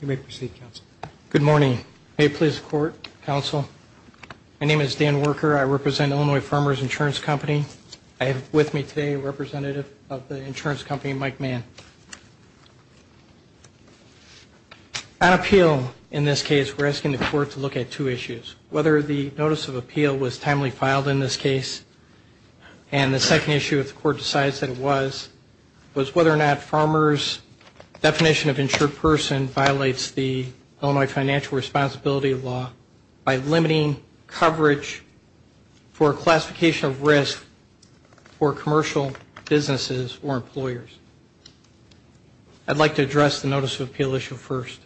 You may proceed, counsel. My name is Dan Worker. I represent Illinois Farmers Insurance Company. I have with me today a representative of the insurance company, Mike Mann. On appeal in this case, we're asking the court to look at two issues, whether the notice of appeal was timely filed in this case, and the second issue, if the court decides that it was, was whether or not farmers' definition of insured person violates the Illinois financial responsibility law by limiting coverage for classification of risk for commercial businesses or employers. I'd like to address the notice of appeal issue first.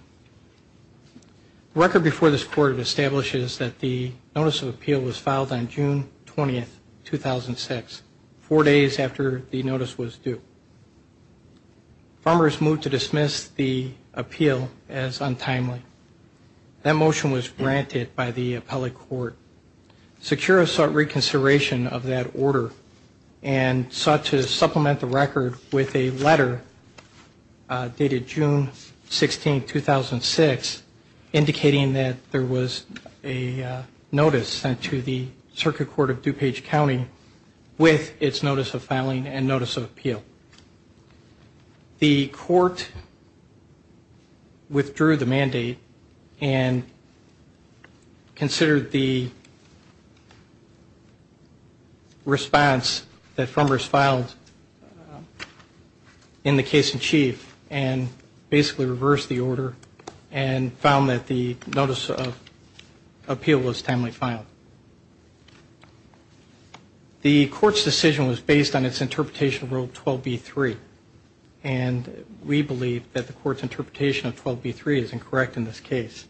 The record before this court establishes that the notice of appeal was filed on June 20, 2006, four days after the notice was due. Farmers moved to dismiss the appeal as untimely. That motion was granted by the appellate court. Secura sought reconsideration of that order and sought to supplement the record with a letter dated June 16, 2006, indicating that there was a notice sent to the circuit court of DuPage County with its notice of filing and notice of appeal. The court withdrew the mandate and considered the response that farmers filed in the case in chief, and basically reversed the order and found that the notice of appeal was timely filed. The court's decision was based on its interpretation of Rule 12b-3, and we believe that the court's interpretation of 12b-3 is incorrect in this case.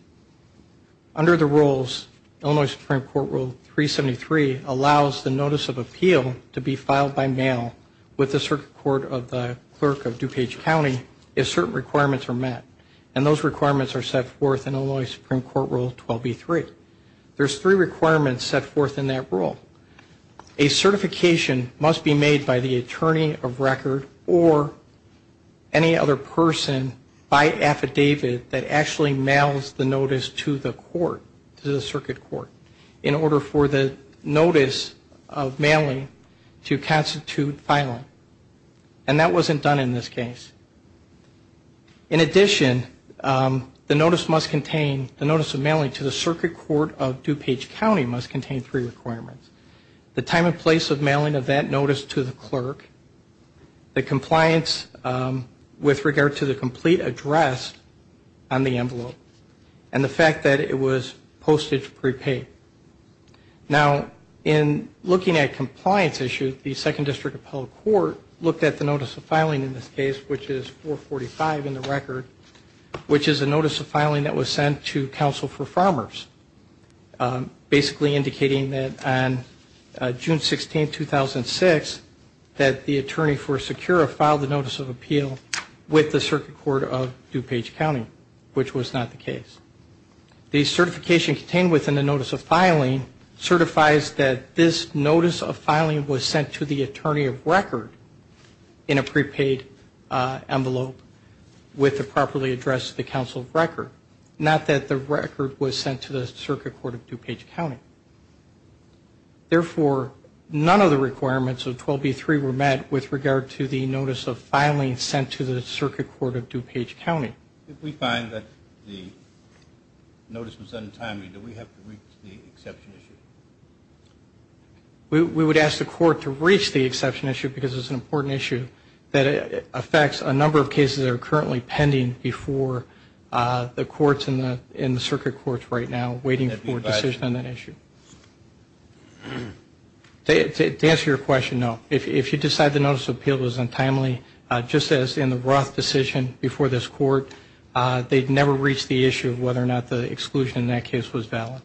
Under the rules, Illinois Supreme Court Rule 373 allows the notice of appeal to be filed by mail with the circuit court of the clerk of DuPage County if certain requirements are met. And those requirements are set forth in Illinois Supreme Court Rule 12b-3. There's three requirements set forth in that rule. A certification must be made by the attorney of record or any other person by affidavit that actually mails the notice to the court, to the circuit court, in order for the notice of mailing to constitute filing. And that wasn't done in this case. In addition, the notice must contain, the notice of mailing to the circuit court of DuPage County must contain three requirements. The time and place of mailing of that notice to the clerk, the compliance with regard to the complete address on the envelope, and the fact that it was postage prepaid. Now, in looking at compliance issues, the Second District Appellate Court looked at the notice of filing in this case, which is 445 in the record, which is a notice of filing that was sent to counsel for farmers, basically indicating that on June 16, 2006, that the attorney for Secura filed the notice of appeal with the circuit court of DuPage County, which was not the case. The certification contained within the notice of filing certifies that this notice of filing was sent to the attorney of record in a prepaid envelope with the properly addressed to the counsel of record. Not that the record was sent to the circuit court of DuPage County. Therefore, none of the requirements of 12B3 were met with regard to the notice of filing sent to the circuit court of DuPage County. If we find that the notice was untimely, do we have to reach the exception issue? We would ask the court to reach the exception issue, because it's an important issue that affects a number of cases that are currently pending before the courts in the circuit courts right now waiting for a decision on that issue. To answer your question, no. If you decide the notice of appeal was untimely, just as in the Roth decision before this court, they'd never reach the issue of whether or not the exclusion in that case was valid.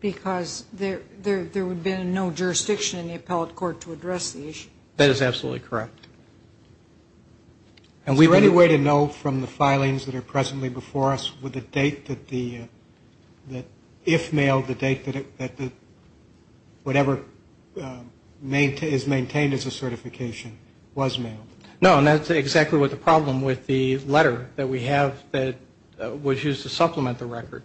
Because there would have been no jurisdiction in the appellate court to address the issue. That is absolutely correct. Is there any way to know from the filings that are presently before us with the date that the, if mailed, the date that the, whatever is maintained as a certification was mailed? No, and that's exactly what the problem with the letter that we have that was used to supplement the record.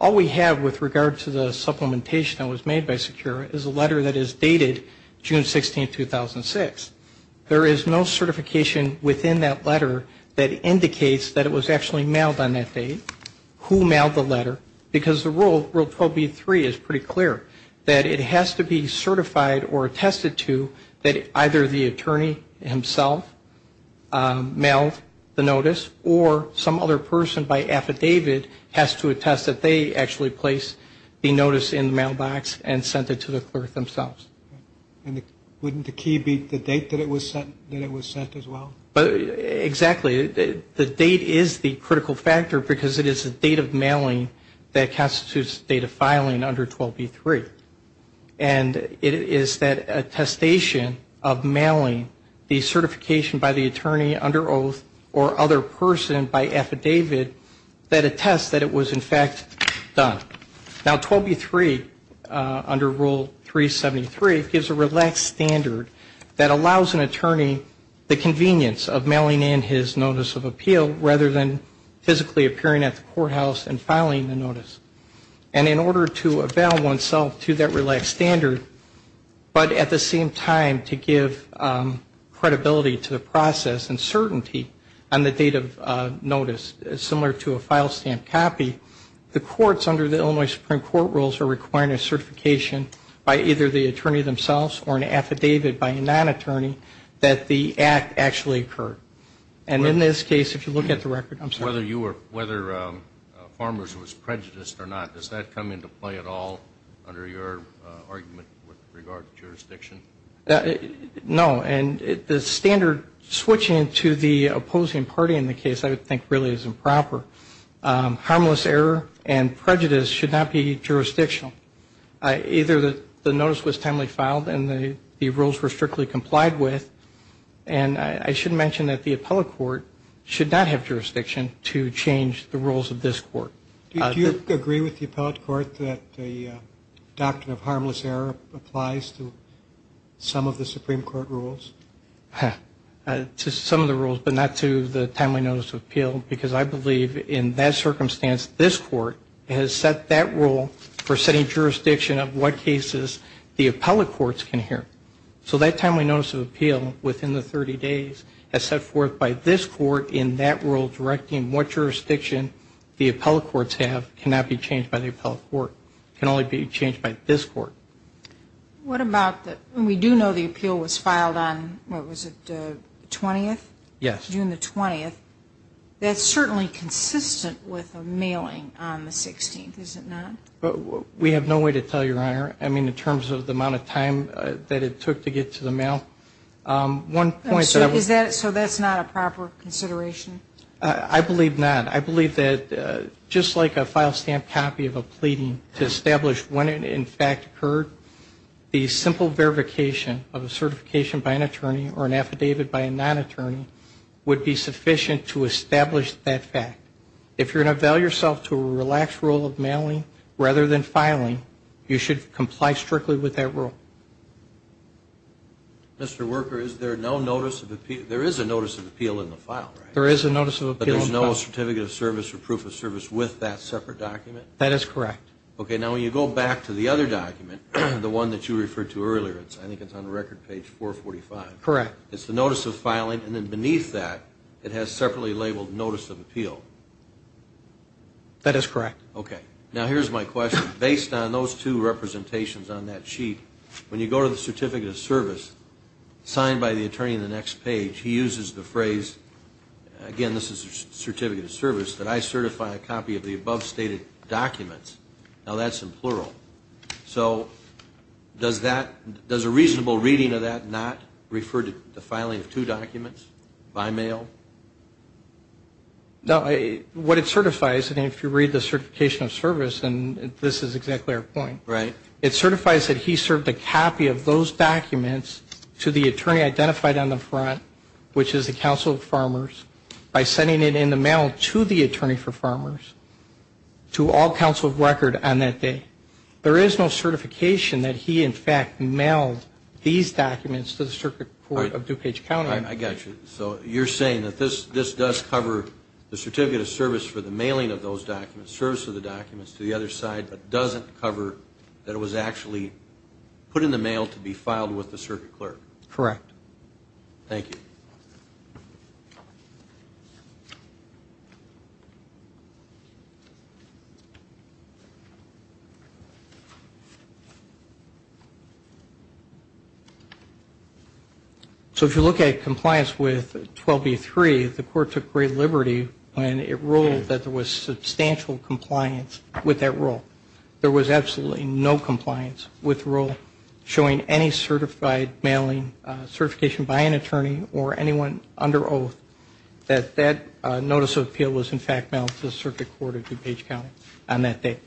All we have with regard to the supplementation that was made by SECURA is a letter that is dated June 16, 2006. There is no certification within that letter that indicates that it was actually mailed on that date, who mailed the letter, because the Rule 12b-3 is pretty clear, that it has to be certified or attested to that either the attorney himself mailed the notice, or some other person by affidavit has to attest that they actually placed the notice in the mailbox and sent it to the clerk themselves. And wouldn't the key be the date that it was sent as well? No, the key is the date that constitutes the date of filing under 12b-3. And it is that attestation of mailing the certification by the attorney under oath or other person by affidavit that attests that it was in fact done. Now, 12b-3 under Rule 373 gives a relaxed standard that allows an attorney the convenience of mailing in his notice of appeal rather than physically attending to the process. And in order to avail oneself to that relaxed standard, but at the same time to give credibility to the process and certainty on the date of notice, similar to a file stamp copy, the courts under the Illinois Supreme Court rules are requiring a certification by either the attorney themselves or an affidavit by a non-attorney that the act actually occurred. Now, the question is, does that come into play at all under your argument with regard to jurisdiction? No, and the standard switching to the opposing party in the case I would think really is improper. Harmless error and prejudice should not be jurisdictional. Either the notice was timely filed and the rules were strictly complied with, and I should mention that the appellate court should not have Do you agree with the appellate court that the doctrine of harmless error applies to some of the Supreme Court rules? To some of the rules, but not to the timely notice of appeal, because I believe in that circumstance this Court has set that rule for setting jurisdiction of what cases the appellate courts can hear. I would argue that that rule can only be changed by the appellate court, can only be changed by this Court. What about when we do know the appeal was filed on, what was it, the 20th? Yes. June the 20th. That's certainly consistent with a mailing on the 16th, is it not? We have no way to tell, Your Honor. I mean, in terms of the amount of time that it took to get to the mail. So that's not a proper consideration? I believe not. I believe that just like a file stamp copy of a pleading to establish when it in fact occurred, the simple verification of a certification by an attorney or an affidavit by a non-attorney would be sufficient to establish that fact. If you're going to avail yourself to a relaxed rule of mailing rather than filing, you should comply strictly with that rule. Mr. Worker, is there no notice of appeal? There is a notice of appeal in the file, right? There is a notice of appeal in the file. But there's no certificate of service or proof of service with that separate document? That is correct. Okay. Now, when you go back to the other document, the one that you referred to earlier, I think it's on record page 445. Correct. It's the notice of filing, and then beneath that, it has separately labeled notice of appeal. That is correct. Okay. Now, here's my question. Based on those two representations on that sheet, when you go to the certificate of service signed by the attorney in the next page, he uses the phrase, again, this is a certificate of service, that I certify a copy of the above stated documents. Does that refer to the filing of two documents by mail? No. What it certifies, and if you read the certification of service, this is exactly our point. Right. It certifies that he served a copy of those documents to the attorney identified on the front, which is the Council of Farmers, by sending it in the mail to the Attorney for Farmers, to all Council of Record on that day. There is no certification that he, in fact, mailed these documents to the Circuit Court of DuPage County. I got you. So you're saying that this does cover the certificate of service for the mailing of those documents, service of the documents to the other side, but doesn't cover that it was actually put in the mail to be filed with the circuit clerk? Correct. So if you look at compliance with 12B3, the Court took great liberty when it ruled that there was substantial compliance with that rule. There was absolutely no compliance with the rule showing any certified mailing, certification by an attorney or anyone under oath, that that notice of appeal was, in fact, mailed to the Circuit Court of DuPage County on that day.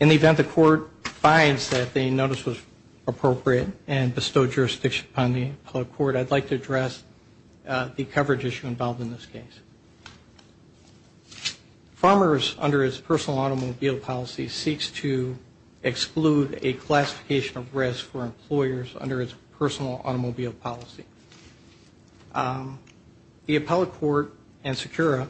In the event the court finds that the notice was appropriate and bestowed jurisdiction upon the appellate court, I'd like to address the coverage issue involved in this case. Farmers, under its personal automobile policy, seeks to exclude a classification of risk for employers under its personal automobile policy. The appellate court and Secura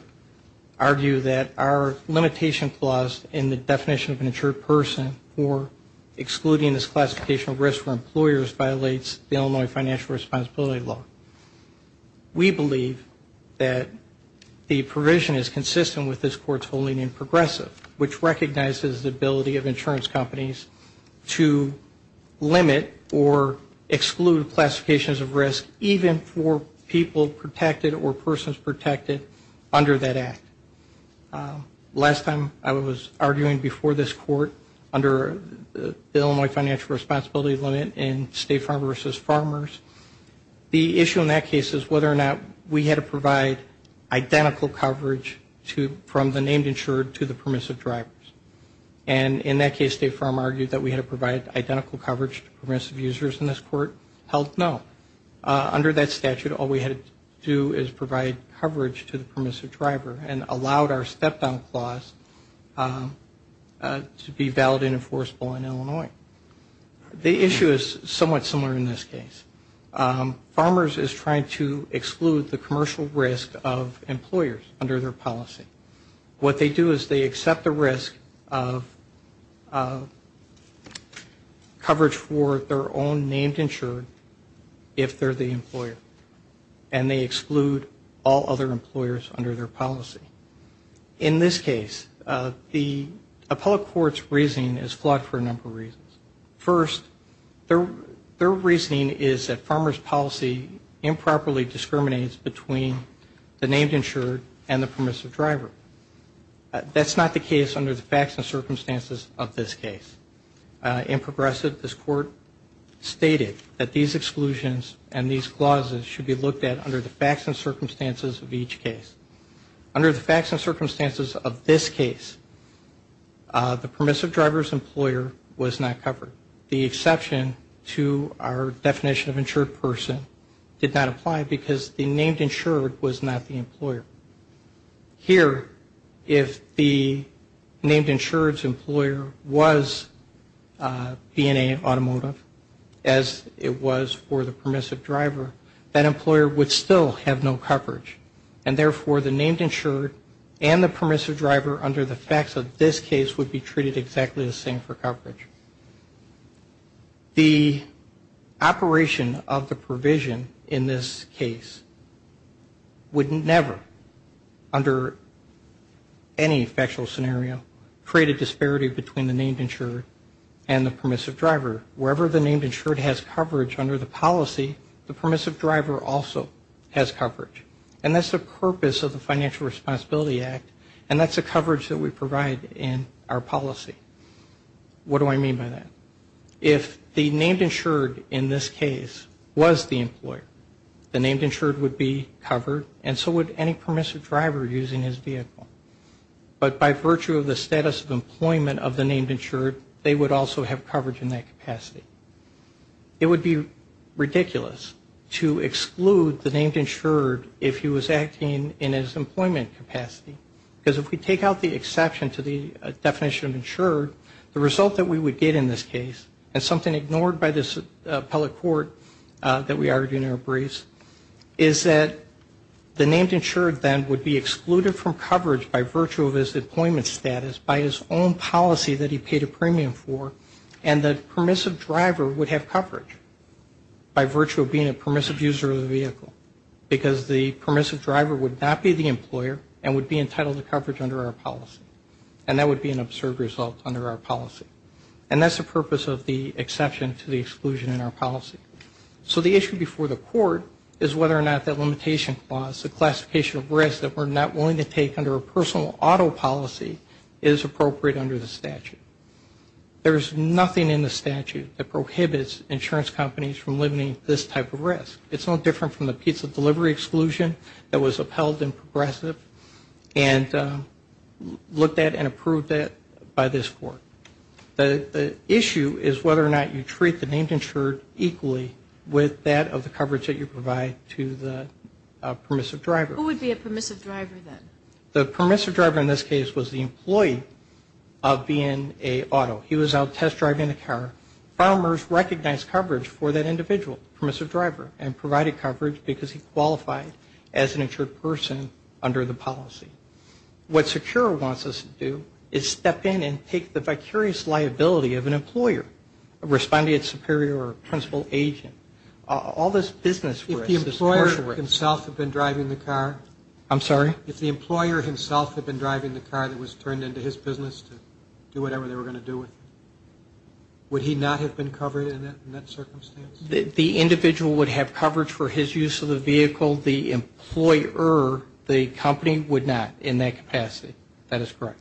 argue that our limitation clause in the definition of an insured person for excluding this classification of risk for employers violates the Illinois financial responsibility law. We believe that the provision is consistent with this court's holding in progressive, which recognizes the ability of insurance companies to limit or exclude risk even for people protected or persons protected under that act. Last time I was arguing before this court under the Illinois financial responsibility limit in State Farm versus Farmers, the issue in that case is whether or not we had to provide identical coverage from the named insured to the permissive drivers. And in that case, State Farm argued that we had to provide identical coverage to permissive users in this court. Held no. Under that statute, all we had to do is provide coverage to the permissive driver and allowed our step-down clause to be valid and enforceable in Illinois. The issue is somewhat similar in this case. Farmers is trying to exclude the commercial risk of employers under their policy. What they do is they accept the risk of coverage for their own named insured if they're the employer. And they exclude all other employers under their policy. In this case, the appellate court's reasoning is flawed for a number of reasons. First, their reasoning is that farmers policy improperly discriminates between the named insured and the permissive driver. That's not the case under the facts and circumstances of this case. In Progressive, this court stated that these exclusions and these clauses should be looked at under the facts and circumstances of each case. Under the facts and circumstances of this case, the permissive driver's employer was not covered. The exception to our definition of insured person did not apply because the named insured was not the employer. Here, if the named insured's employer was B&A Automotive, as it was for the permissive driver, that employer would still have no coverage. And therefore, the named insured and the permissive driver under the facts of this case would be treated exactly the same for coverage. The operation of the provision in this case would never, under any factual scenario, create a disparity between the named insured and the permissive driver. Wherever the named insured has coverage under the policy, the permissive driver also has coverage. And that's the purpose of the Financial Responsibility Act, and that's the coverage that we provide in our policy. What do I mean by that? If the named insured in this case was the employer, the named insured would be covered, and so would any permissive driver using his vehicle. But by virtue of the status of employment of the named insured, they would also have coverage in that capacity. It would be ridiculous to exclude the named insured if he was acting in his employment capacity, because if we take out the exception to the definition of insured, the result that we would get in this case, and something ignored by this appellate court that we argue in our briefs, is that the named insured then would be excluded from coverage by virtue of his employment status, by his own policy that he paid a premium for, and the permissive driver would have coverage by virtue of being a permissive user of the vehicle, because the permissive driver would not be the employer and would be entitled to coverage under our policy. And that would be an absurd result under our policy. And that's the purpose of the exception to the exclusion in our policy. So the issue before the court is whether or not that limitation clause, the classification of risk that we're not willing to take under a personal auto policy is appropriate under the statute. There is nothing in the statute that prohibits insurance companies from limiting this type of risk. It's no different from the pizza delivery exclusion that was upheld in Progressive, and limits insurance companies from doing that. And we've looked at and approved that by this court. The issue is whether or not you treat the named insured equally with that of the coverage that you provide to the permissive driver. Who would be a permissive driver then? The permissive driver in this case was the employee of BNA Auto. He was out test driving the car. Farmers recognized coverage for that individual, permissive driver, and provided coverage because he qualified as an insured person under the policy. What SECURE wants us to do is step in and take the vicarious liability of an employer, a respondent superior or principal agent. All this business risk is part of it. If the employer himself had been driving the car that was turned into his business to do whatever they were going to do with it, would he not have been covered in that circumstance? The individual would have coverage for his use of the vehicle. The employer, the company, would not. In that capacity, that is correct.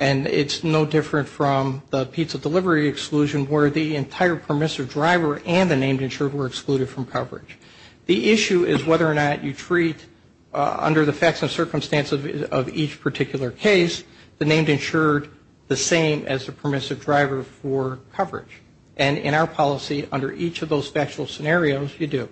And it's no different from the pizza delivery exclusion where the entire permissive driver and the named insured were excluded from coverage. The issue is whether or not you treat, under the facts and circumstances of each particular case, the named insured the same as the permissive driver for coverage. And in our policy, under each of those factual scenarios, you do.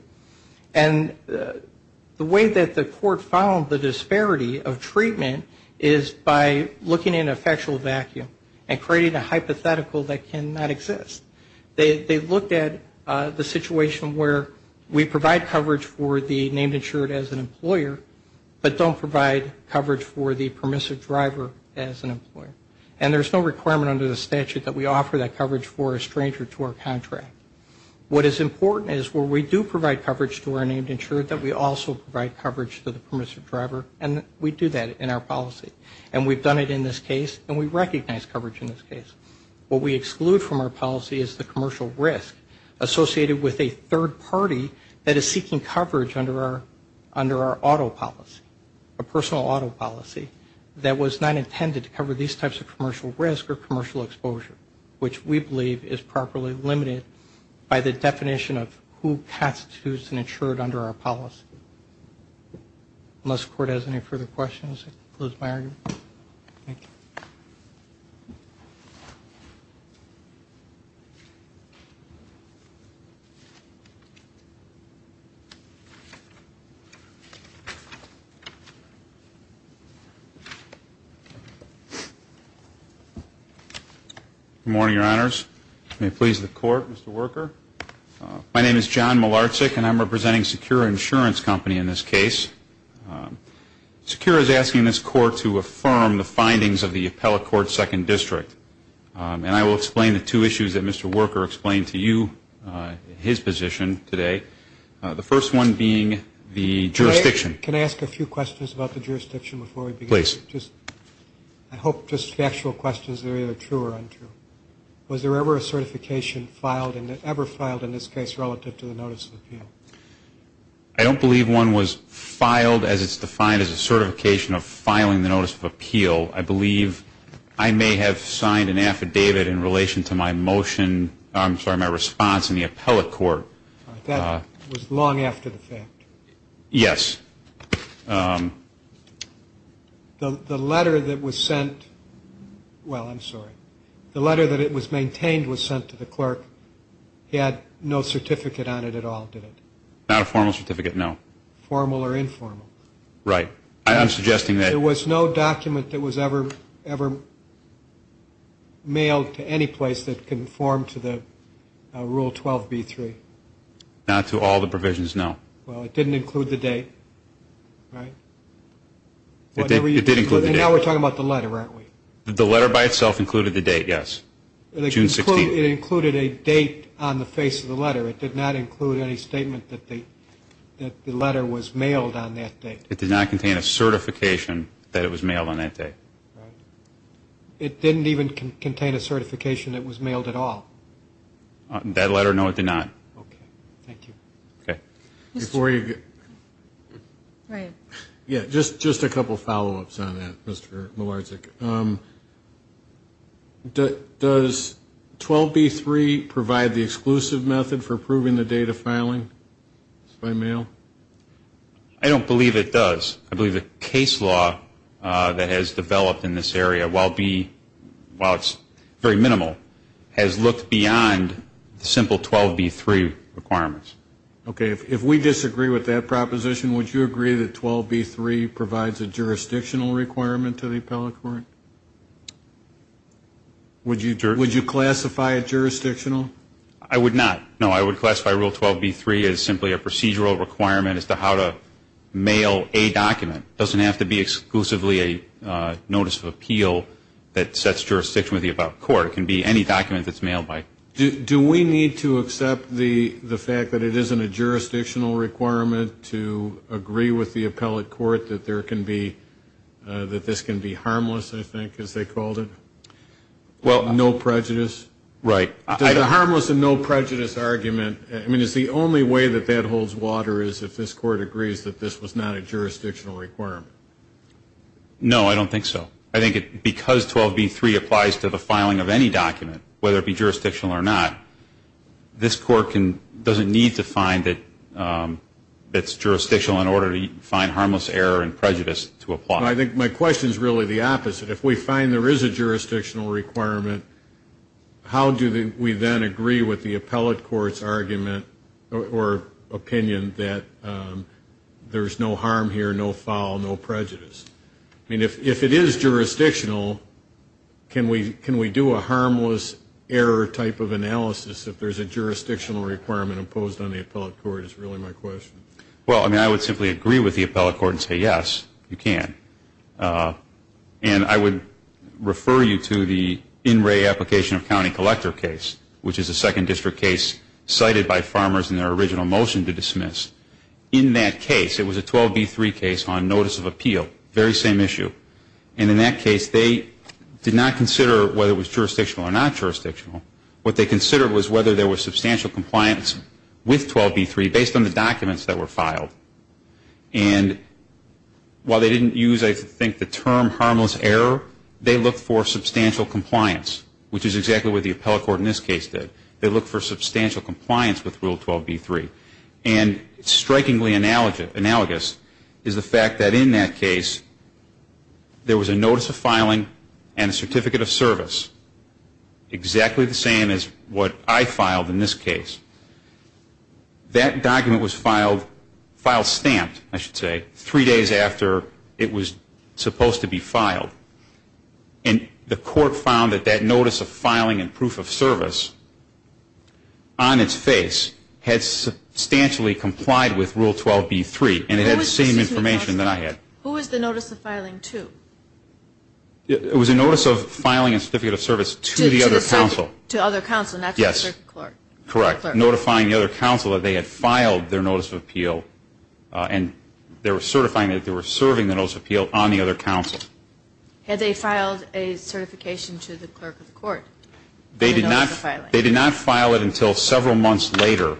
And the way that the court found the disparity of treatment is by looking in a factual vacuum and creating a hypothetical that cannot exist. They looked at the situation where we provide coverage for the named insured as an employer, but don't provide coverage for the permissive driver as an employer. And there's no requirement under the statute that we offer that coverage for a stranger to our contract. What is important is where we do provide coverage to our named insured, that we also provide coverage to the permissive driver, and we do that in our policy. And we've done it in this case, and we recognize coverage in this case. What we exclude from our policy is the commercial risk associated with a third party that is seeking coverage under our auto policy, a personal auto policy, that was not intended to cover these types of commercial risk or commercial exposure, which we believe is properly limited to the definition of who constitutes an insured under our policy. Unless the court has any further questions, I'll close my argument. Thank you. Good morning, Your Honors. May it please the Court, Mr. Worker. My name is John Malarczyk, and I'm representing Secure Insurance Company in this case. Secure is asking this Court to affirm the findings of the Appellate Court Second District. And I will explain the two issues that Mr. Worker explained to you in his position today, the first one being the jurisdiction. Can I ask a few questions about the jurisdiction before we begin? Please. I hope just the actual questions are either true or untrue. Was there ever a certification filed, ever filed in this case relative to the notice of appeal? I don't believe one was filed as it's defined as a certification of filing the notice of appeal. I believe I may have signed an affidavit in relation to my motion, I'm sorry, my response in the Appellate Court. That was long after the fact. Yes. The letter that was sent, well, I'm sorry, the letter that it was maintained was sent to the clerk. He had no certificate on it at all, did it? Not a formal certificate, no. Formal or informal. There was no document that was ever mailed to any place that conformed to the Rule 12B3? Not to all the provisions, no. Well, it didn't include the date, right? It did include the date. And now we're talking about the letter, aren't we? The letter by itself included the date, yes. June 16th. It included a date on the face of the letter. It did not include any statement that the letter was mailed on that date. It did not contain a certification that it was mailed on that date. It didn't even contain a certification that it was mailed at all? That letter, no, it did not. Okay, thank you. Okay. Just a couple follow-ups on that, Mr. Milarczyk. Does 12B3 provide the exclusive method for approving the data filing by mail? I don't believe it does. I believe the case law that has developed in this area, while it's very minimal, has looked beyond the simple 12B3 requirements. Okay, if we disagree with that proposition, would you agree that 12B3 provides a jurisdictional requirement to the appellate court? Would you classify it jurisdictional? I would not. No, I would classify Rule 12B3 as simply a procedural requirement as to how to mail a document. It doesn't have to be exclusively a notice of appeal that sets jurisdiction with the above court. It can be any document that's mailed by. Is there a jurisdictional requirement to agree with the appellate court that there can be, that this can be harmless, I think, as they called it? Well, no prejudice. Right. Does a harmless and no prejudice argument, I mean, is the only way that that holds water is if this court agrees that this was not a jurisdictional requirement? No, I don't think so. I think because 12B3 applies to the filing of any document, whether it be jurisdictional or not, this court doesn't need to find that it's jurisdictional in order to find harmless error and prejudice to apply. I think my question is really the opposite. If we find there is a jurisdictional requirement, how do we then agree with the appellate court's argument or opinion that there's no harm here, no foul, no prejudice? I mean, if it is jurisdictional, can we do a harmless error type of analysis if there's a jurisdictional requirement imposed on the appellate court is really my question. Well, I mean, I would simply agree with the appellate court and say, yes, you can. And I would refer you to the in-ray application of county collector case, which is a second district case cited by farmers in their original motion to dismiss. In that case, it was a 12B3 case on notice of appeal, very same issue. And in that case, they did not consider whether it was jurisdictional or not jurisdictional. What they considered was whether there was substantial compliance with 12B3 based on the documents that were filed. And while they didn't use, I think, the term harmless error, they looked for substantial compliance, which is exactly what the appellate court in this case did. They looked for substantial compliance with Rule 12B3. And strikingly analogous is the fact that in that case, there was a notice of filing and a certificate of service exactly the same as what I filed in this case. That document was filed, filed stamped, I should say, three days after it was supposed to be filed. And the court found that that notice of filing and proof of service on its face had substantially complied with Rule 12B3. And it had the same information that I had. Who was the notice of filing to? It was a notice of filing a certificate of service to the other counsel. To other counsel, not just the clerk. Correct. Notifying the other counsel that they had filed their notice of appeal and they were certifying that they were serving the notice of appeal on the other counsel. Had they filed a certification to the clerk of the court? They did not file it until several months later,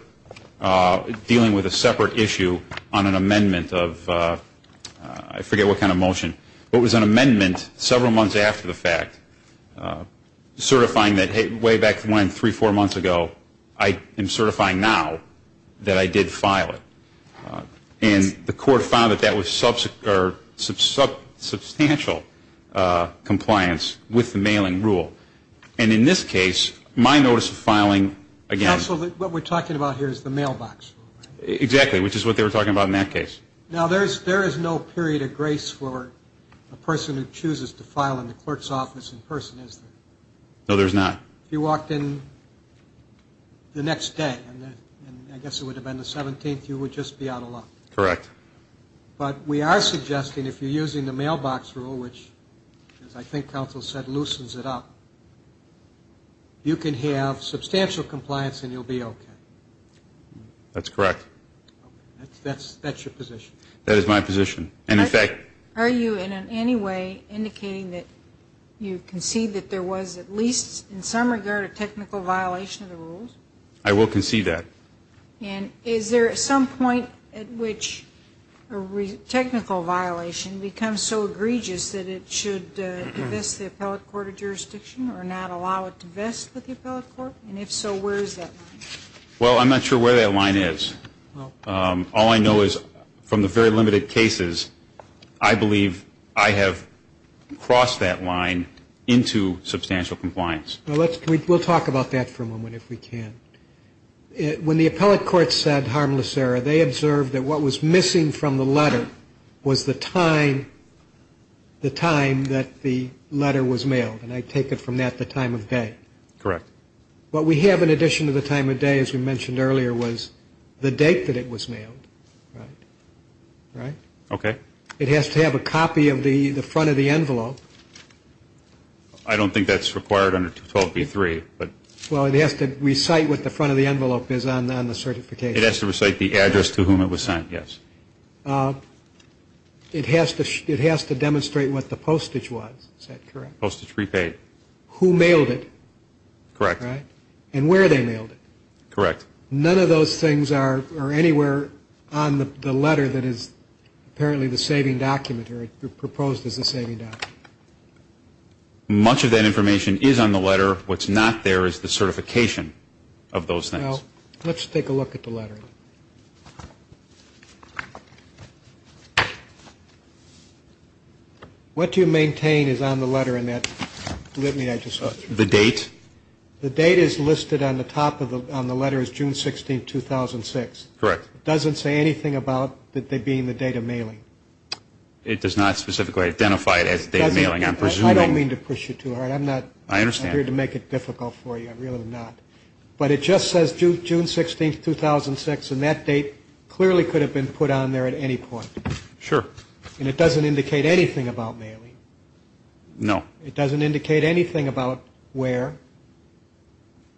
dealing with a separate issue on an amendment of, I forget what kind of motion, but it was an amendment several months after the fact, certifying that, hey, we have a notice of appeal. And it was way back when, three, four months ago, I am certifying now that I did file it. And the court found that that was substantial compliance with the mailing rule. And in this case, my notice of filing again... Counsel, what we're talking about here is the mailbox rule, right? Exactly, which is what they were talking about in that case. Now, there is no period of grace for a person who chooses to file in the clerk's office in person, is there? No, there's not. If you walked in the next day, and I guess it would have been the 17th, you would just be out of luck. Correct. But we are suggesting, if you're using the mailbox rule, which, as I think counsel said, loosens it up, you can have substantial compliance and you'll be okay. That's correct. That is my position. Are you in any way indicating that you concede that there was at least in some regard a technical violation of the rules? I will concede that. And is there some point at which a technical violation becomes so egregious that it should divest the appellate court of jurisdiction or not allow it to divest with the appellate court? And if so, where is that line? Well, I'm not sure where that line is. All I know is from the very limited cases, I believe I have crossed that line into substantial compliance. We'll talk about that for a moment, if we can. When the appellate court said harmless error, they observed that what was missing from the letter was the time that the letter was mailed. And I take it from that the time of day? Correct. What we have in addition to the time of day, as we mentioned earlier, was the date that it was mailed, right? Okay. It has to have a copy of the front of the envelope. I don't think that's required under 212B3. Well, it has to recite what the front of the envelope is on the certification. It has to recite the address to whom it was sent, yes. It has to demonstrate what the postage was, is that correct? Postage prepaid. Postage prepaid, who mailed it. Correct. And where they mailed it. None of those things are anywhere on the letter that is apparently the saving document or proposed as a saving document. Much of that information is on the letter. What's not there is the certification of those things. Let's take a look at the letter. What do you maintain is on the letter in that? The date? The date is listed on the top of the letter is June 16, 2006. Correct. It doesn't say anything about it being the date of mailing. It does not specifically identify it as the date of mailing. I don't mean to push you too hard. I'm not here to make it difficult for you. But it just says June 16, 2006 and that date clearly could have been put on there at any point. Sure. And it doesn't indicate anything about mailing. No. It doesn't indicate anything about where.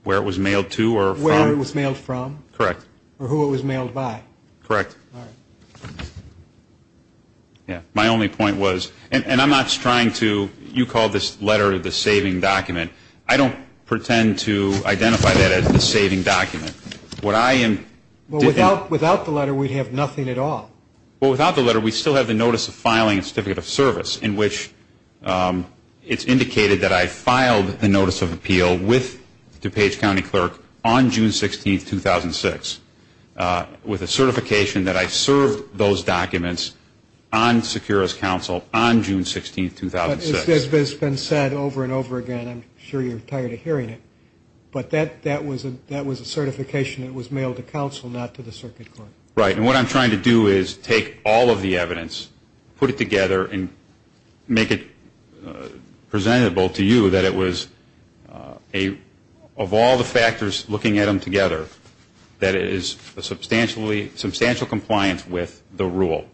Where it was mailed to or from. Where it was mailed from or who it was mailed by. Correct. My only point was and I'm not trying to you call this letter the saving document. I don't pretend to identify that as the saving document. Without the letter, we'd have nothing at all. Without the letter, we still have the notice of filing and certificate of service in which it's indicated that I filed the notice of appeal with DuPage County Clerk on June 16, 2006 with a certification that I served those documents on Securus Council on June 16, 2006. That's been said over and over again. I'm sure you're tired of hearing it. But that was a certification that was mailed to council, not to the circuit court. Right. And what I'm trying to do is take all of the evidence, put it together and make it presentable to you that it was of all the factors looking at them together that it is a substantial compliance with the rule.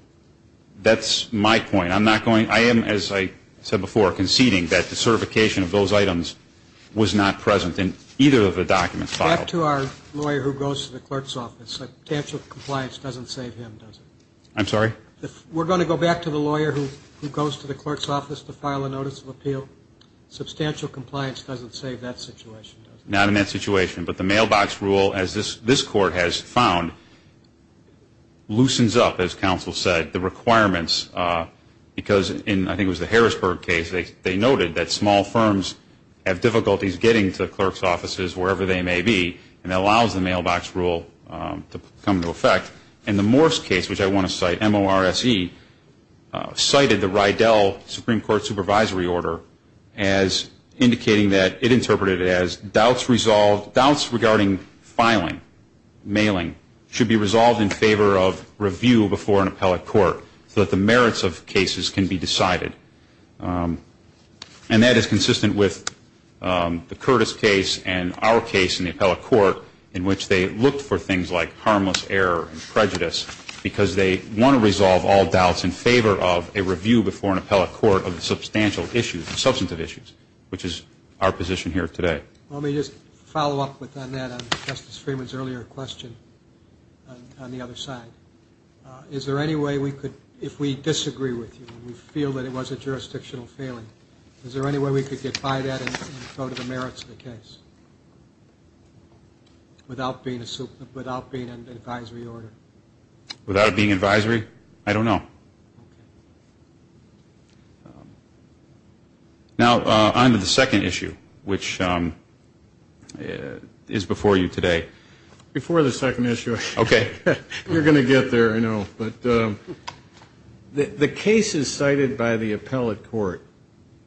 That's my point. I am, as I said before, conceding that the certification of those items was not present in either of the documents filed. Back to our lawyer who goes to the clerk's office. Substantial compliance doesn't save him, does it? I'm sorry? We're going to go back to the lawyer who goes to the clerk's office to file a notice of appeal. Substantial compliance doesn't save that situation, does it? Not in that situation. But the mailbox rule, as this court has found, loosens up, as counsel said, the requirements. Because in I think it was the Harrisburg case, they noted that small firms have difficulties getting to the clerk's offices wherever they may be. And that allows the mailbox rule to come into effect. And the Morse case, which I want to cite, M-O-R-S-E, cited the Rydell Supreme Court supervisory order as indicating that it interpreted as doubts regarding filing, mailing, should be resolved in favor of review before an appellate court so that the merits of cases can be decided. And that is consistent with the Curtis case and our case in the appellate court in which they looked for things like harmless error and prejudice because they want to resolve all doubts in favor of a review before an appellate court of the substantial issues, substantive issues, which is our position here today. Let me just follow up on that on Justice Freeman's earlier question on the other side. Is there any way we could, if we disagree with you and we feel that it was a jurisdictional failing, is there any way we could get by that and go to the merits of the case without being an advisory order? Without it being advisory? I don't know. Now on to the second issue, which is before you today. Before the second issue, you're going to get there, I know. But the cases cited by the appellate court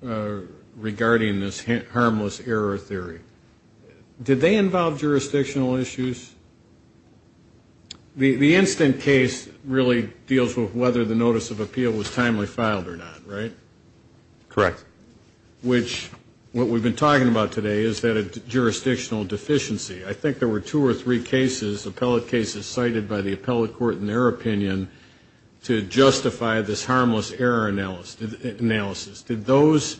regarding this harmless error theory, did they involve jurisdictional issues? The instant case really deals with whether the notice of appeal was timely filed or not, right? Correct. Which what we've been talking about today is that a jurisdictional deficiency. I think there were two or three cases, appellate cases, cited by the appellate court in their opinion to justify this harmless error analysis. Did those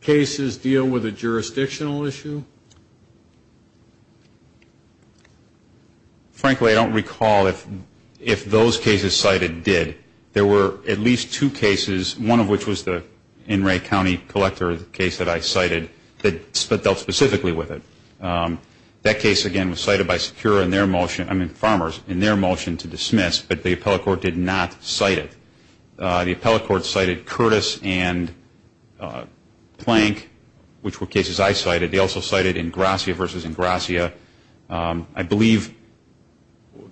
cases deal with a jurisdictional issue? Frankly, I don't recall if those cases cited did. There were at least two cases, one of which was the Enray County Collector case that I cited, that dealt specifically with it. That case, again, was cited by Secura in their motion, I mean Farmers, in their motion to dismiss, but the appellate court did not cite it. The appellate court cited Curtis and Plank, which were cases I cited. They also cited Ingrassia versus Ingrassia. I believe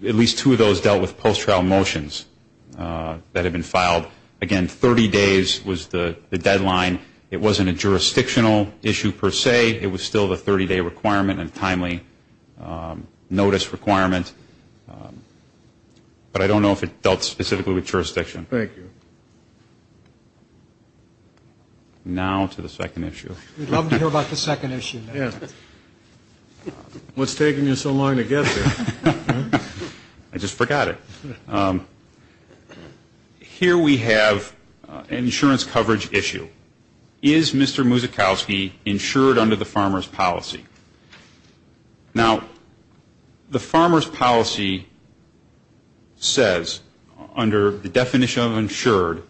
at least two of those dealt with post-trial motions that had been filed. Again, 30 days was the deadline. It wasn't a jurisdictional issue per se. It was still the 30-day requirement and timely notice requirement, but I don't know if it dealt specifically with jurisdiction. Thank you. Now to the second issue. We'd love to hear about the second issue. What's taking you so long to get there? I just forgot it. Here we have an insurance coverage issue. Is Mr. Muzikowski insured under the farmer's policy? Now, the farmer's policy says, under the definition of insured,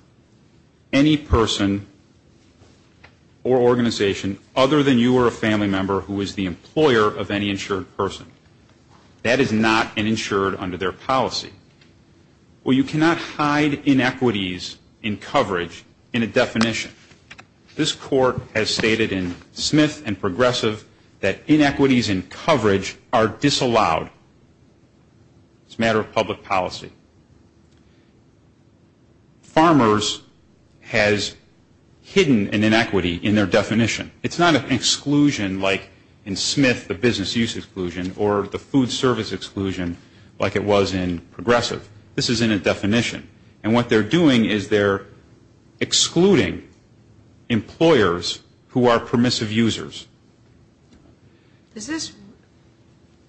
any person or organization other than you or a family member who is the employer of any insured person, that is not an insured under their policy. Well, you cannot hide inequities in coverage in a definition. This court has stated in Smith and Progressive that inequities in coverage are disallowed. It's a matter of public policy. Farmers has hidden an inequity in their definition. It's not an exclusion like in Smith, the business use exclusion, or the food service exclusion like it was in Progressive. This is in a definition, and what they're doing is they're excluding employers who are permissive users. Is this,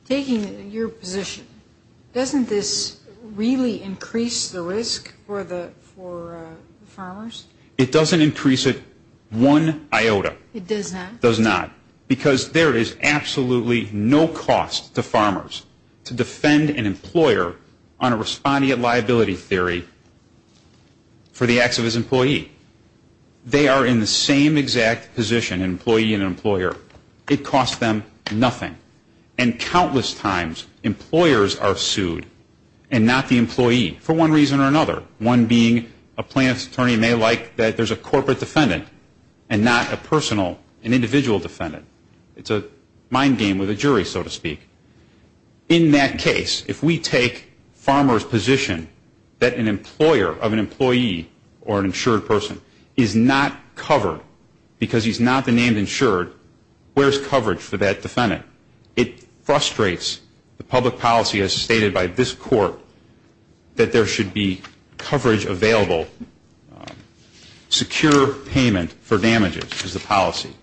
taking your position, doesn't this really increase the risk for the farmers? It doesn't increase it one iota. It does not? It does not. Because there is absolutely no cost to farmers to defend an employer on a respondent liability theory for the acts of his employee. They are in the same exact position, an employee and an employer. It costs them nothing. And countless times employers are sued and not the employee for one reason or another, one being a plaintiff's attorney may like that there's a individual defendant. It's a mind game with a jury, so to speak. In that case, if we take farmers' position that an employer of an employee or an insured person is not covered because he's not the named insured, where's coverage for that defendant? It frustrates the public policy as stated by this court that there should be coverage available, secure payment for damages is the policy.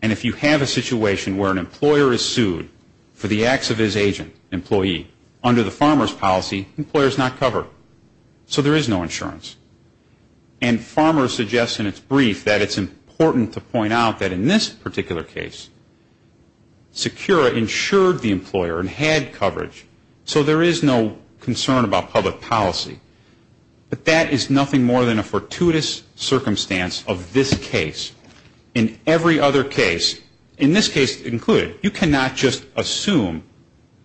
And if you have a situation where an employer is sued for the acts of his agent, employee, under the farmer's policy, the employer is not covered, so there is no insurance. And farmers suggest in its brief that it's important to point out that in this particular case, Secura insured the employer and had coverage, so there is no concern about public policy. But that is nothing more than a fortuitous circumstance of this case. In every other case, in this case included, you cannot just assume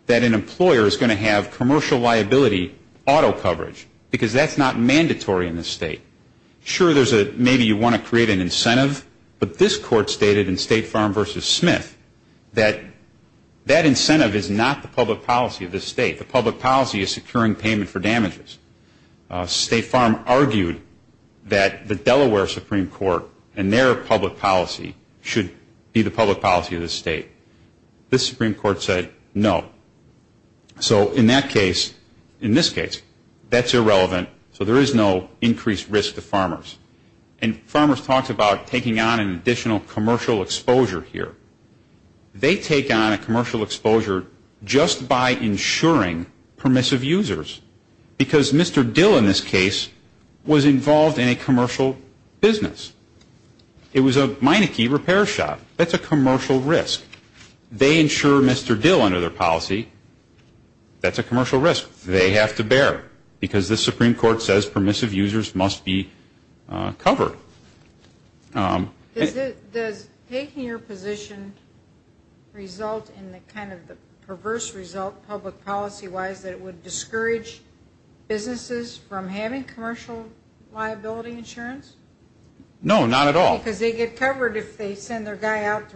that an employer is going to have commercial liability auto coverage because that's not mandatory in this state. Sure, there's a maybe you want to create an incentive, but this court stated in State Farm v. Smith that that incentive is not the public policy of this state. The public policy is securing payment for damages. State Farm argued that the Delaware Supreme Court and their public policy should be the public policy of this state. This Supreme Court said no. So in that case, in this case, that's irrelevant, so there is no increased risk to farmers. And farmers talked about taking on an additional commercial exposure here. They take on a commercial exposure just by insuring permissive users, because Mr. Dill in this case was involved in a commercial business. It was a Meineke repair shop. That's a commercial risk. They insure Mr. Dill under their policy. That's a commercial risk they have to bear, because this Supreme Court says permissive users must be covered. Does taking your position result in the kind of perverse result public policy-wise that it would discourage businesses from having commercial liability insurance? No, not at all. Because they get covered if they send their guy out to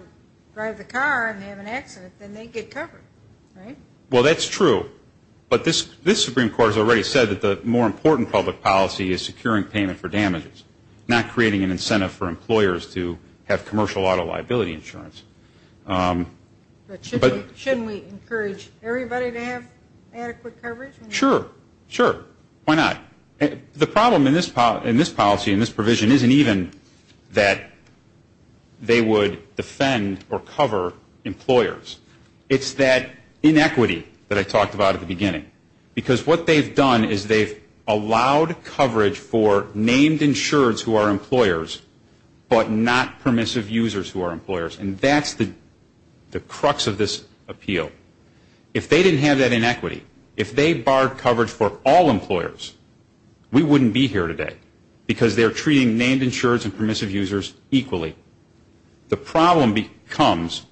drive the car and have an accident, then they get covered, right? Well, that's true, but this Supreme Court has already said that the more important public policy is securing payment for damages, not creating an incentive for employers to have commercial auto liability insurance. But shouldn't we encourage everybody to have adequate coverage? Sure, sure. Why not? The problem in this policy and this provision isn't even that they would defend or cover employers. It's that inequity that I talked about at the beginning. Because what they've done is they've allowed coverage for named insureds who are employers, but not permissive users who are employers, and that's the crux of this appeal. If they didn't have that inequity, if they barred coverage for all employers, we wouldn't be here today. Because they're treating named insureds and permissive users equally. The problem comes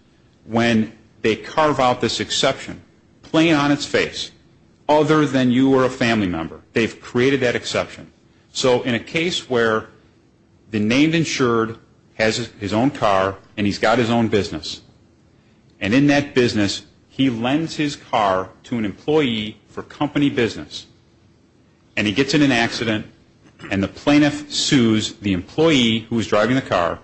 when they carve out this exception plain on its face, other than you are a family member. They've created that exception. So in a case where the named insured has his own car and he's got his own business, and in that business he lends his car to an employee for company business, and he gets in an accident and the plaintiff sues the employee who is driving the car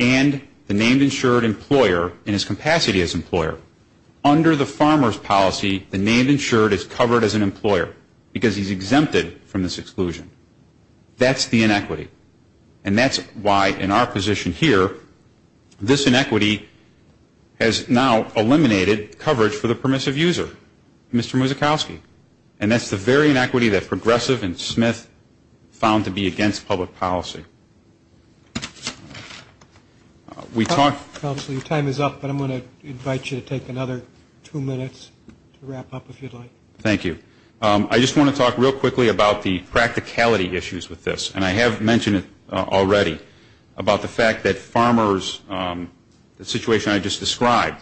and the named insured employer in his capacity as employer. Under the farmer's policy, the named insured is covered as an employer because he's exempted from this exclusion. That's the inequity. And that's why, in our position here, this inequity has now eliminated coverage for the permissive user, Mr. Muzikowski. And that's the very inequity that Progressive and Smith found to be against public policy. We talked... And I have mentioned it already, about the fact that farmers... The situation I just described,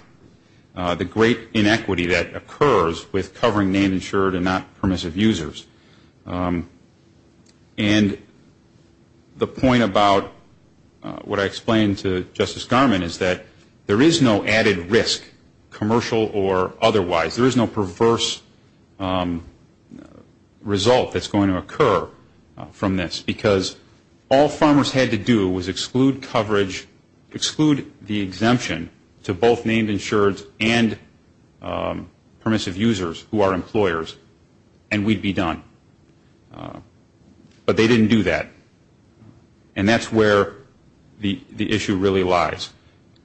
the great inequity that occurs with covering named insured and not permissive users. And the point about what I explained to Justice Garmon is that there is no added risk, commercial or otherwise. There is no perverse result that's going to occur from this, because all farmers had to do was exclude coverage, exclude the exemption to both named insured and permissive users who are employers, and we'd be done. But they didn't do that, and that's where the issue really lies.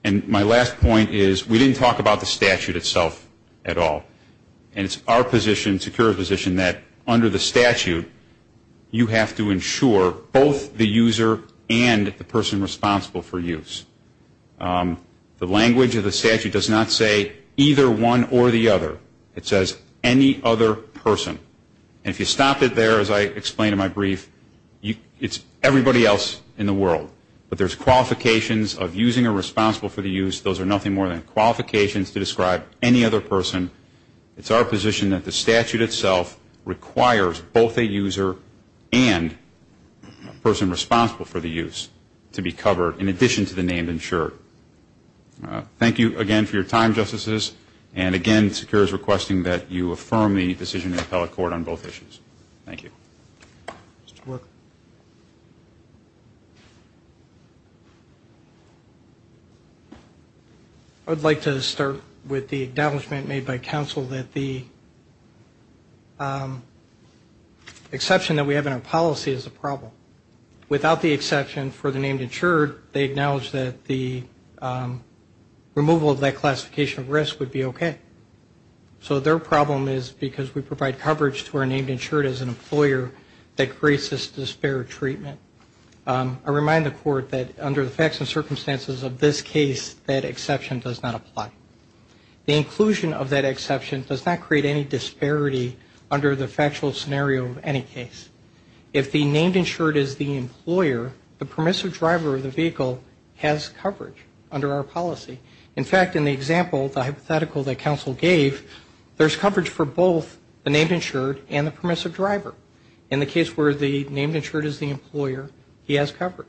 And my last point is, we didn't talk about the statute itself at all. And it's our position, Secure's position, that under the statute, you have to insure both the user and the person responsible for use. The language of the statute does not say either one or the other. It says any other person. And if you stop it there, as I explained in my brief, it's everybody else in the world. But there's qualifications of using or responsible for the use. Those are nothing more than qualifications to describe any other person. It's our position that the statute itself requires both a user and a person responsible for the use to be covered in addition to the named insured. Thank you again for your time, Justices. And I'll turn it over to the Court on both issues. I would like to start with the acknowledgement made by counsel that the exception that we have in our policy is a problem. Without the exception for the named insured, they acknowledge that the removal of that classification of risk would be okay. So their problem is because we provide coverage to our named insured as an employer that creates this disparate treatment. I remind the Court that under the facts and circumstances of this case, that exception does not apply. The inclusion of that exception does not create any disparity under the factual scenario of any case. If the named insured is the employer, the permissive driver of the vehicle has coverage under our policy. In fact, in the example, the hypothetical that counsel gave, there's coverage for both the named insured and the permissive driver. In the case where the named insured is the employer, he has coverage.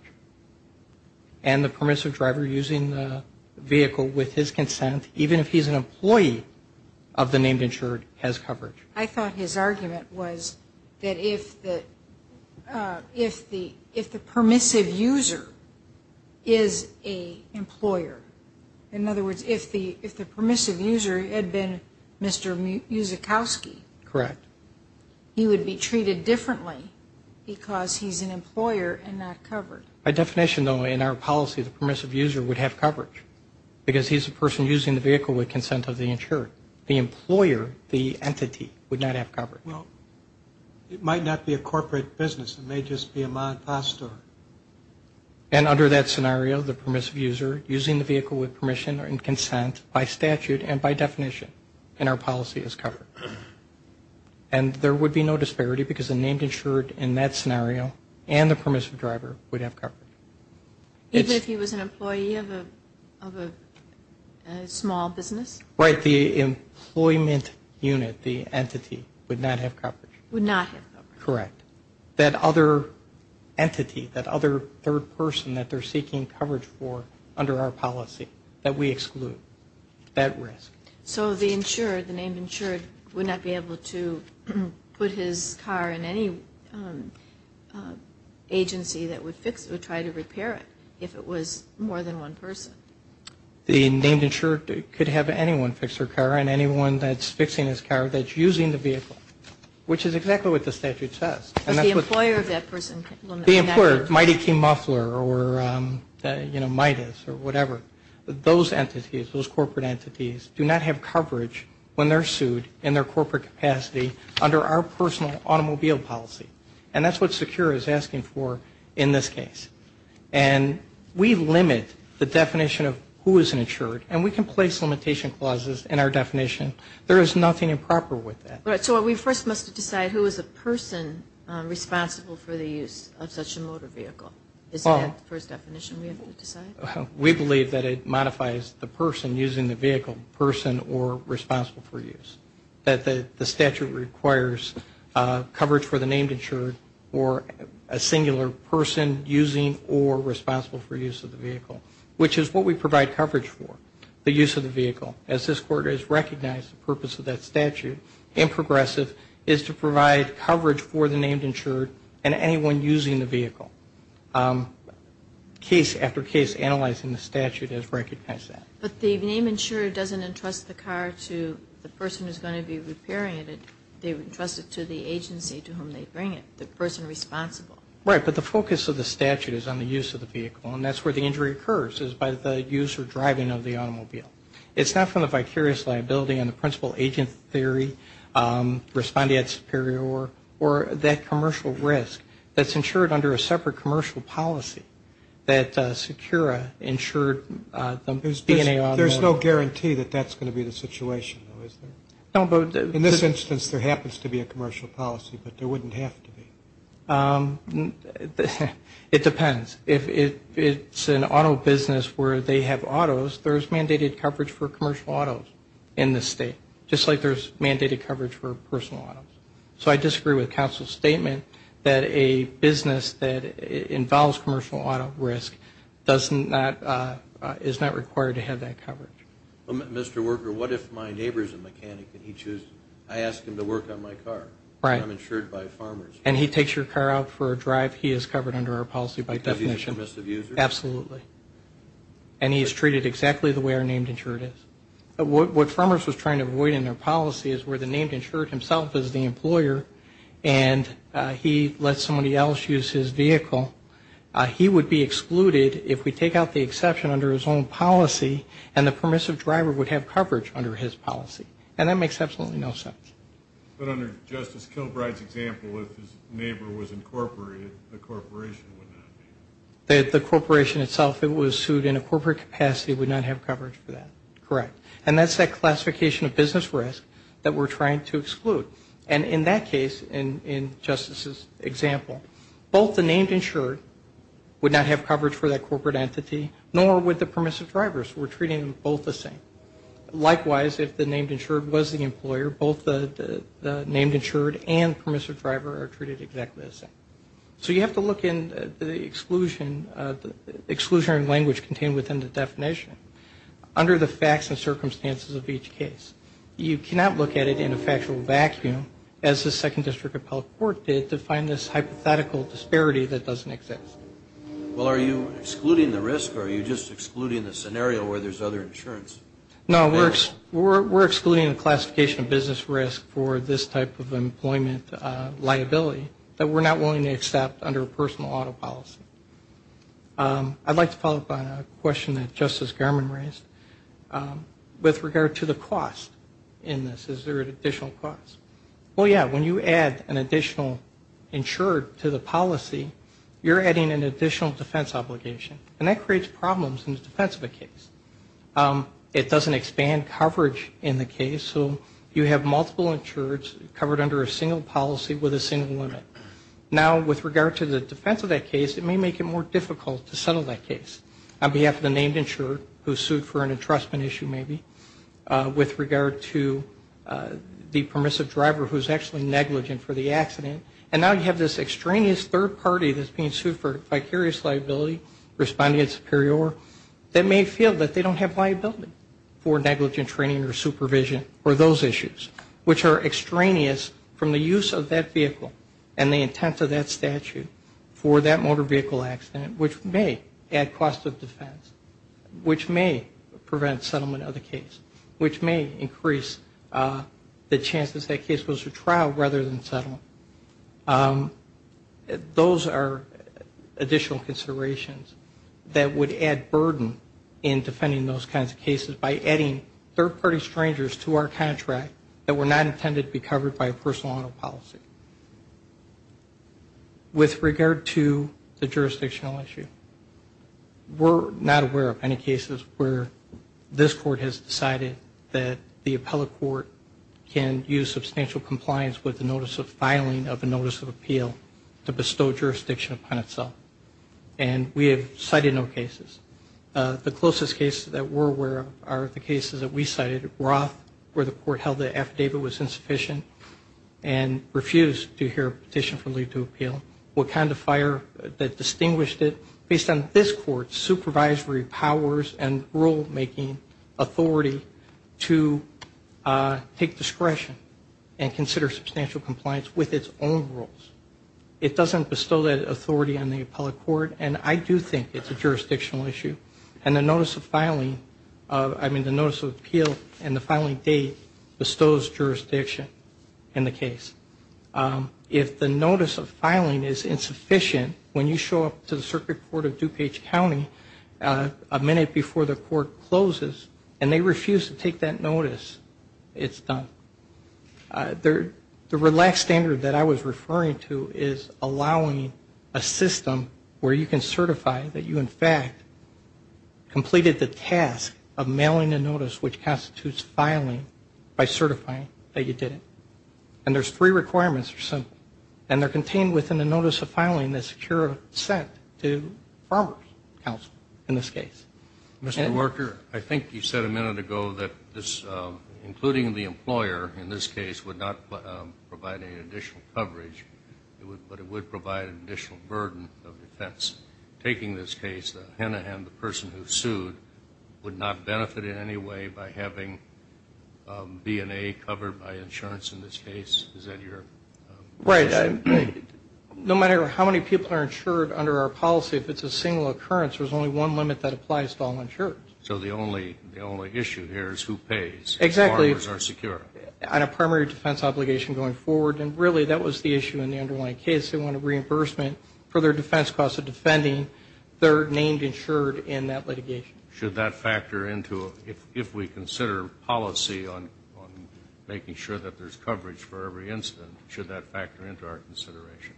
And the permissive driver using the vehicle with his consent, even if he's an employee of the named insured, has coverage. I thought his argument was that if the permissive user is an employer, and he has coverage, in other words, if the permissive user had been Mr. Muzikowski, he would be treated differently, because he's an employer and not covered. By definition, though, in our policy, the permissive user would have coverage, because he's the person using the vehicle with consent of the insured. The employer, the entity, would not have coverage. Well, it might not be a corporate business. It may just be a Ma and Pa store. And under that scenario, the permissive user using the vehicle with permission and consent, by statute and by definition, in our policy, is covered. And there would be no disparity, because the named insured in that scenario and the permissive driver would have coverage. Even if he was an employee of a small business? Right. The employment unit, the entity, would not have coverage. Correct. That other entity, that other third person that they're seeking coverage for under our policy, that we exclude. That risk. So the insured, the named insured, would not be able to put his car in any agency that would fix it, would try to repair it, if it was more than one person? The named insured could have anyone fix their car, and anyone that's fixing his car, that's using the vehicle. Which is exactly what the statute says. The employer, Mighty Key Muffler or Midas or whatever, those entities, those corporate entities, do not have coverage when they're sued in their corporate capacity under our personal automobile policy. And that's what SECURE is asking for in this case. And we limit the definition of who is an insured, and we can place limitation clauses in our definition. There is nothing improper with that. So we first must decide who is a person responsible for the use of such a motor vehicle. Is that the first definition we have to decide? We believe that it modifies the person using the vehicle, person or responsible for use. That the statute requires coverage for the named insured or a singular person using or responsible for use of the vehicle, which is what we provide coverage for. The use of the vehicle, as this Court has recognized the purpose of that statute in Progressive, is to provide coverage for the named insured and anyone using the vehicle. Case after case, analyzing the statute has recognized that. But the named insured doesn't entrust the car to the person who's going to be repairing it. They entrust it to the agency to whom they bring it, the person responsible. Right, but the focus of the statute is on the use of the vehicle. It's not from the vicarious liability on the principal agent theory, respondeat superior, or that commercial risk that's insured under a separate commercial policy that SECURA insured the B&A automobile. There's no guarantee that that's going to be the situation, though, is there? In this instance, there happens to be a commercial policy, but there wouldn't have to be. It depends. If it's an auto business where they have autos, there's mandated coverage for commercial autos in this state, just like there's mandated coverage for personal autos. So I disagree with counsel's statement that a business that involves commercial auto risk does not, is not required to have that coverage. Mr. Worker, what if my neighbor's a mechanic and I ask him to work on my car? I'm insured by farmers. And he takes your car out for a drive, he is covered under our policy by definition. Because he's a permissive user? Absolutely. And he is treated exactly the way our named insured is. What farmers was trying to avoid in their policy is where the named insured himself is the employer, and he lets somebody else use his vehicle. He would be excluded if we take out the exception under his own policy, and the permissive driver would have coverage under his policy. And that makes absolutely no sense. But under Justice Kilbride's example, if his neighbor was incorporated, the corporation would not be. The corporation itself, if it was sued in a corporate capacity, would not have coverage for that. Correct. And that's that classification of business risk that we're trying to exclude. And in that case, in Justice's example, both the named insured would not have coverage for that corporate entity, nor would the permissive drivers. We're treating them both the same. Likewise, if the named insured was the employer, both the named insured and permissive driver are treated exactly the same. So you have to look in the exclusion, exclusionary language contained within the definition, under the facts and circumstances of each case. You cannot look at it in a factual vacuum, as the Second District Appellate Court did, to find this hypothetical disparity that doesn't exist. Well, are you excluding the risk, or are you just excluding the scenario where there's other insurance? No, we're excluding the classification of business risk for this type of employment liability that we're not willing to accept under a personal auto policy. I'd like to follow up on a question that Justice Garmon raised with regard to the cost in this. Is there an additional cost? Well, yeah, when you add an additional insured to the policy, you're adding an additional defense obligation, and that creates problems in the defense of a case. It doesn't expand coverage in the case, so you have multiple insureds covered under a single policy with a single limit. Now, with regard to the defense of that case, it may make it more difficult to settle that case, on behalf of the named insured, who sued for an entrustment issue, maybe, with regard to the permissive drivers. The driver who's actually negligent for the accident, and now you have this extraneous third party that's being sued for vicarious liability, responding at superior, that may feel that they don't have liability for negligent training or supervision for those issues, which are extraneous from the use of that vehicle and the intent of that statute for that motor vehicle accident, which may add cost of defense, which may prevent settlement of the case, which may increase the chances that case goes to trial, rather than settlement. Those are additional considerations that would add burden in defending those kinds of cases by adding third party strangers to our contract that were not intended to be covered by a personal auto policy. With regard to the jurisdictional issue, we're not aware of any cases where this type of case is covered. This court has decided that the appellate court can use substantial compliance with the notice of filing of a notice of appeal to bestow jurisdiction upon itself, and we have cited no cases. The closest cases that we're aware of are the cases that we cited, Roth, where the court held the affidavit was insufficient and refused to hear a petition for leave to appeal. The court was able to determine what kind of fire, that distinguished it, based on this court's supervisory powers and rule-making authority to take discretion and consider substantial compliance with its own rules. It doesn't bestow that authority on the appellate court, and I do think it's a jurisdictional issue, and the notice of filing, I mean the notice of appeal and the filing date bestows jurisdiction in the case. If the notice of filing is insufficient, when you show up to the circuit court of DuPage County a minute before the court closes and they refuse to take that notice, it's done. The relaxed standard that I was referring to is allowing a system where you can certify that you in fact completed the task of mailing a notice which constitutes filing by certifying that you did it. And there's three requirements or so, and they're contained within the notice of filing that's secure of assent to farmer's counsel in this case. Mr. Worker, I think you said a minute ago that this, including the employer in this case, would not provide any additional coverage, but it would provide an additional burden of defense. Taking this case, the Hennahan, the person who sued, would not benefit in any way by having B and A covered by insurance in this case? Is that your position? Right. No matter how many people are insured under our policy, if it's a single occurrence, there's only one limit that applies to all insureds. So the only issue here is who pays if farmers are secure? Exactly. On a primary defense obligation going forward, and really that was the issue in the underlying case. They want a reimbursement for their defense cost of defending their named insured in that litigation. Should that factor into, if we consider policy on making sure that there's coverage for every incident, should that factor into our consideration?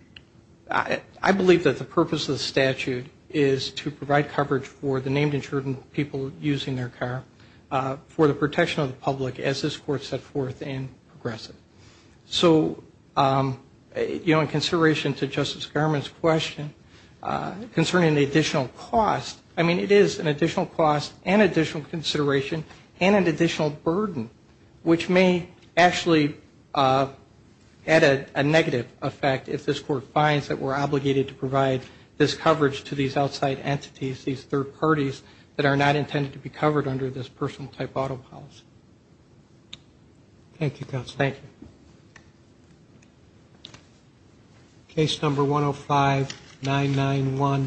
I believe that the purpose of the statute is to provide coverage for the named insured and people using their car for the protection of the public as this Court set forth in Progressive. So, you know, in consideration to Justice Garment's question concerning the additional cost, I mean, it is an additional cost and additional consideration and an additional burden, which may actually add a negative effect if this Court does not consider it. So I think it's important that this Court finds that we're obligated to provide this coverage to these outside entities, these third parties, that are not intended to be covered under this personal type auto policy. Thank you, counsel. Thank you.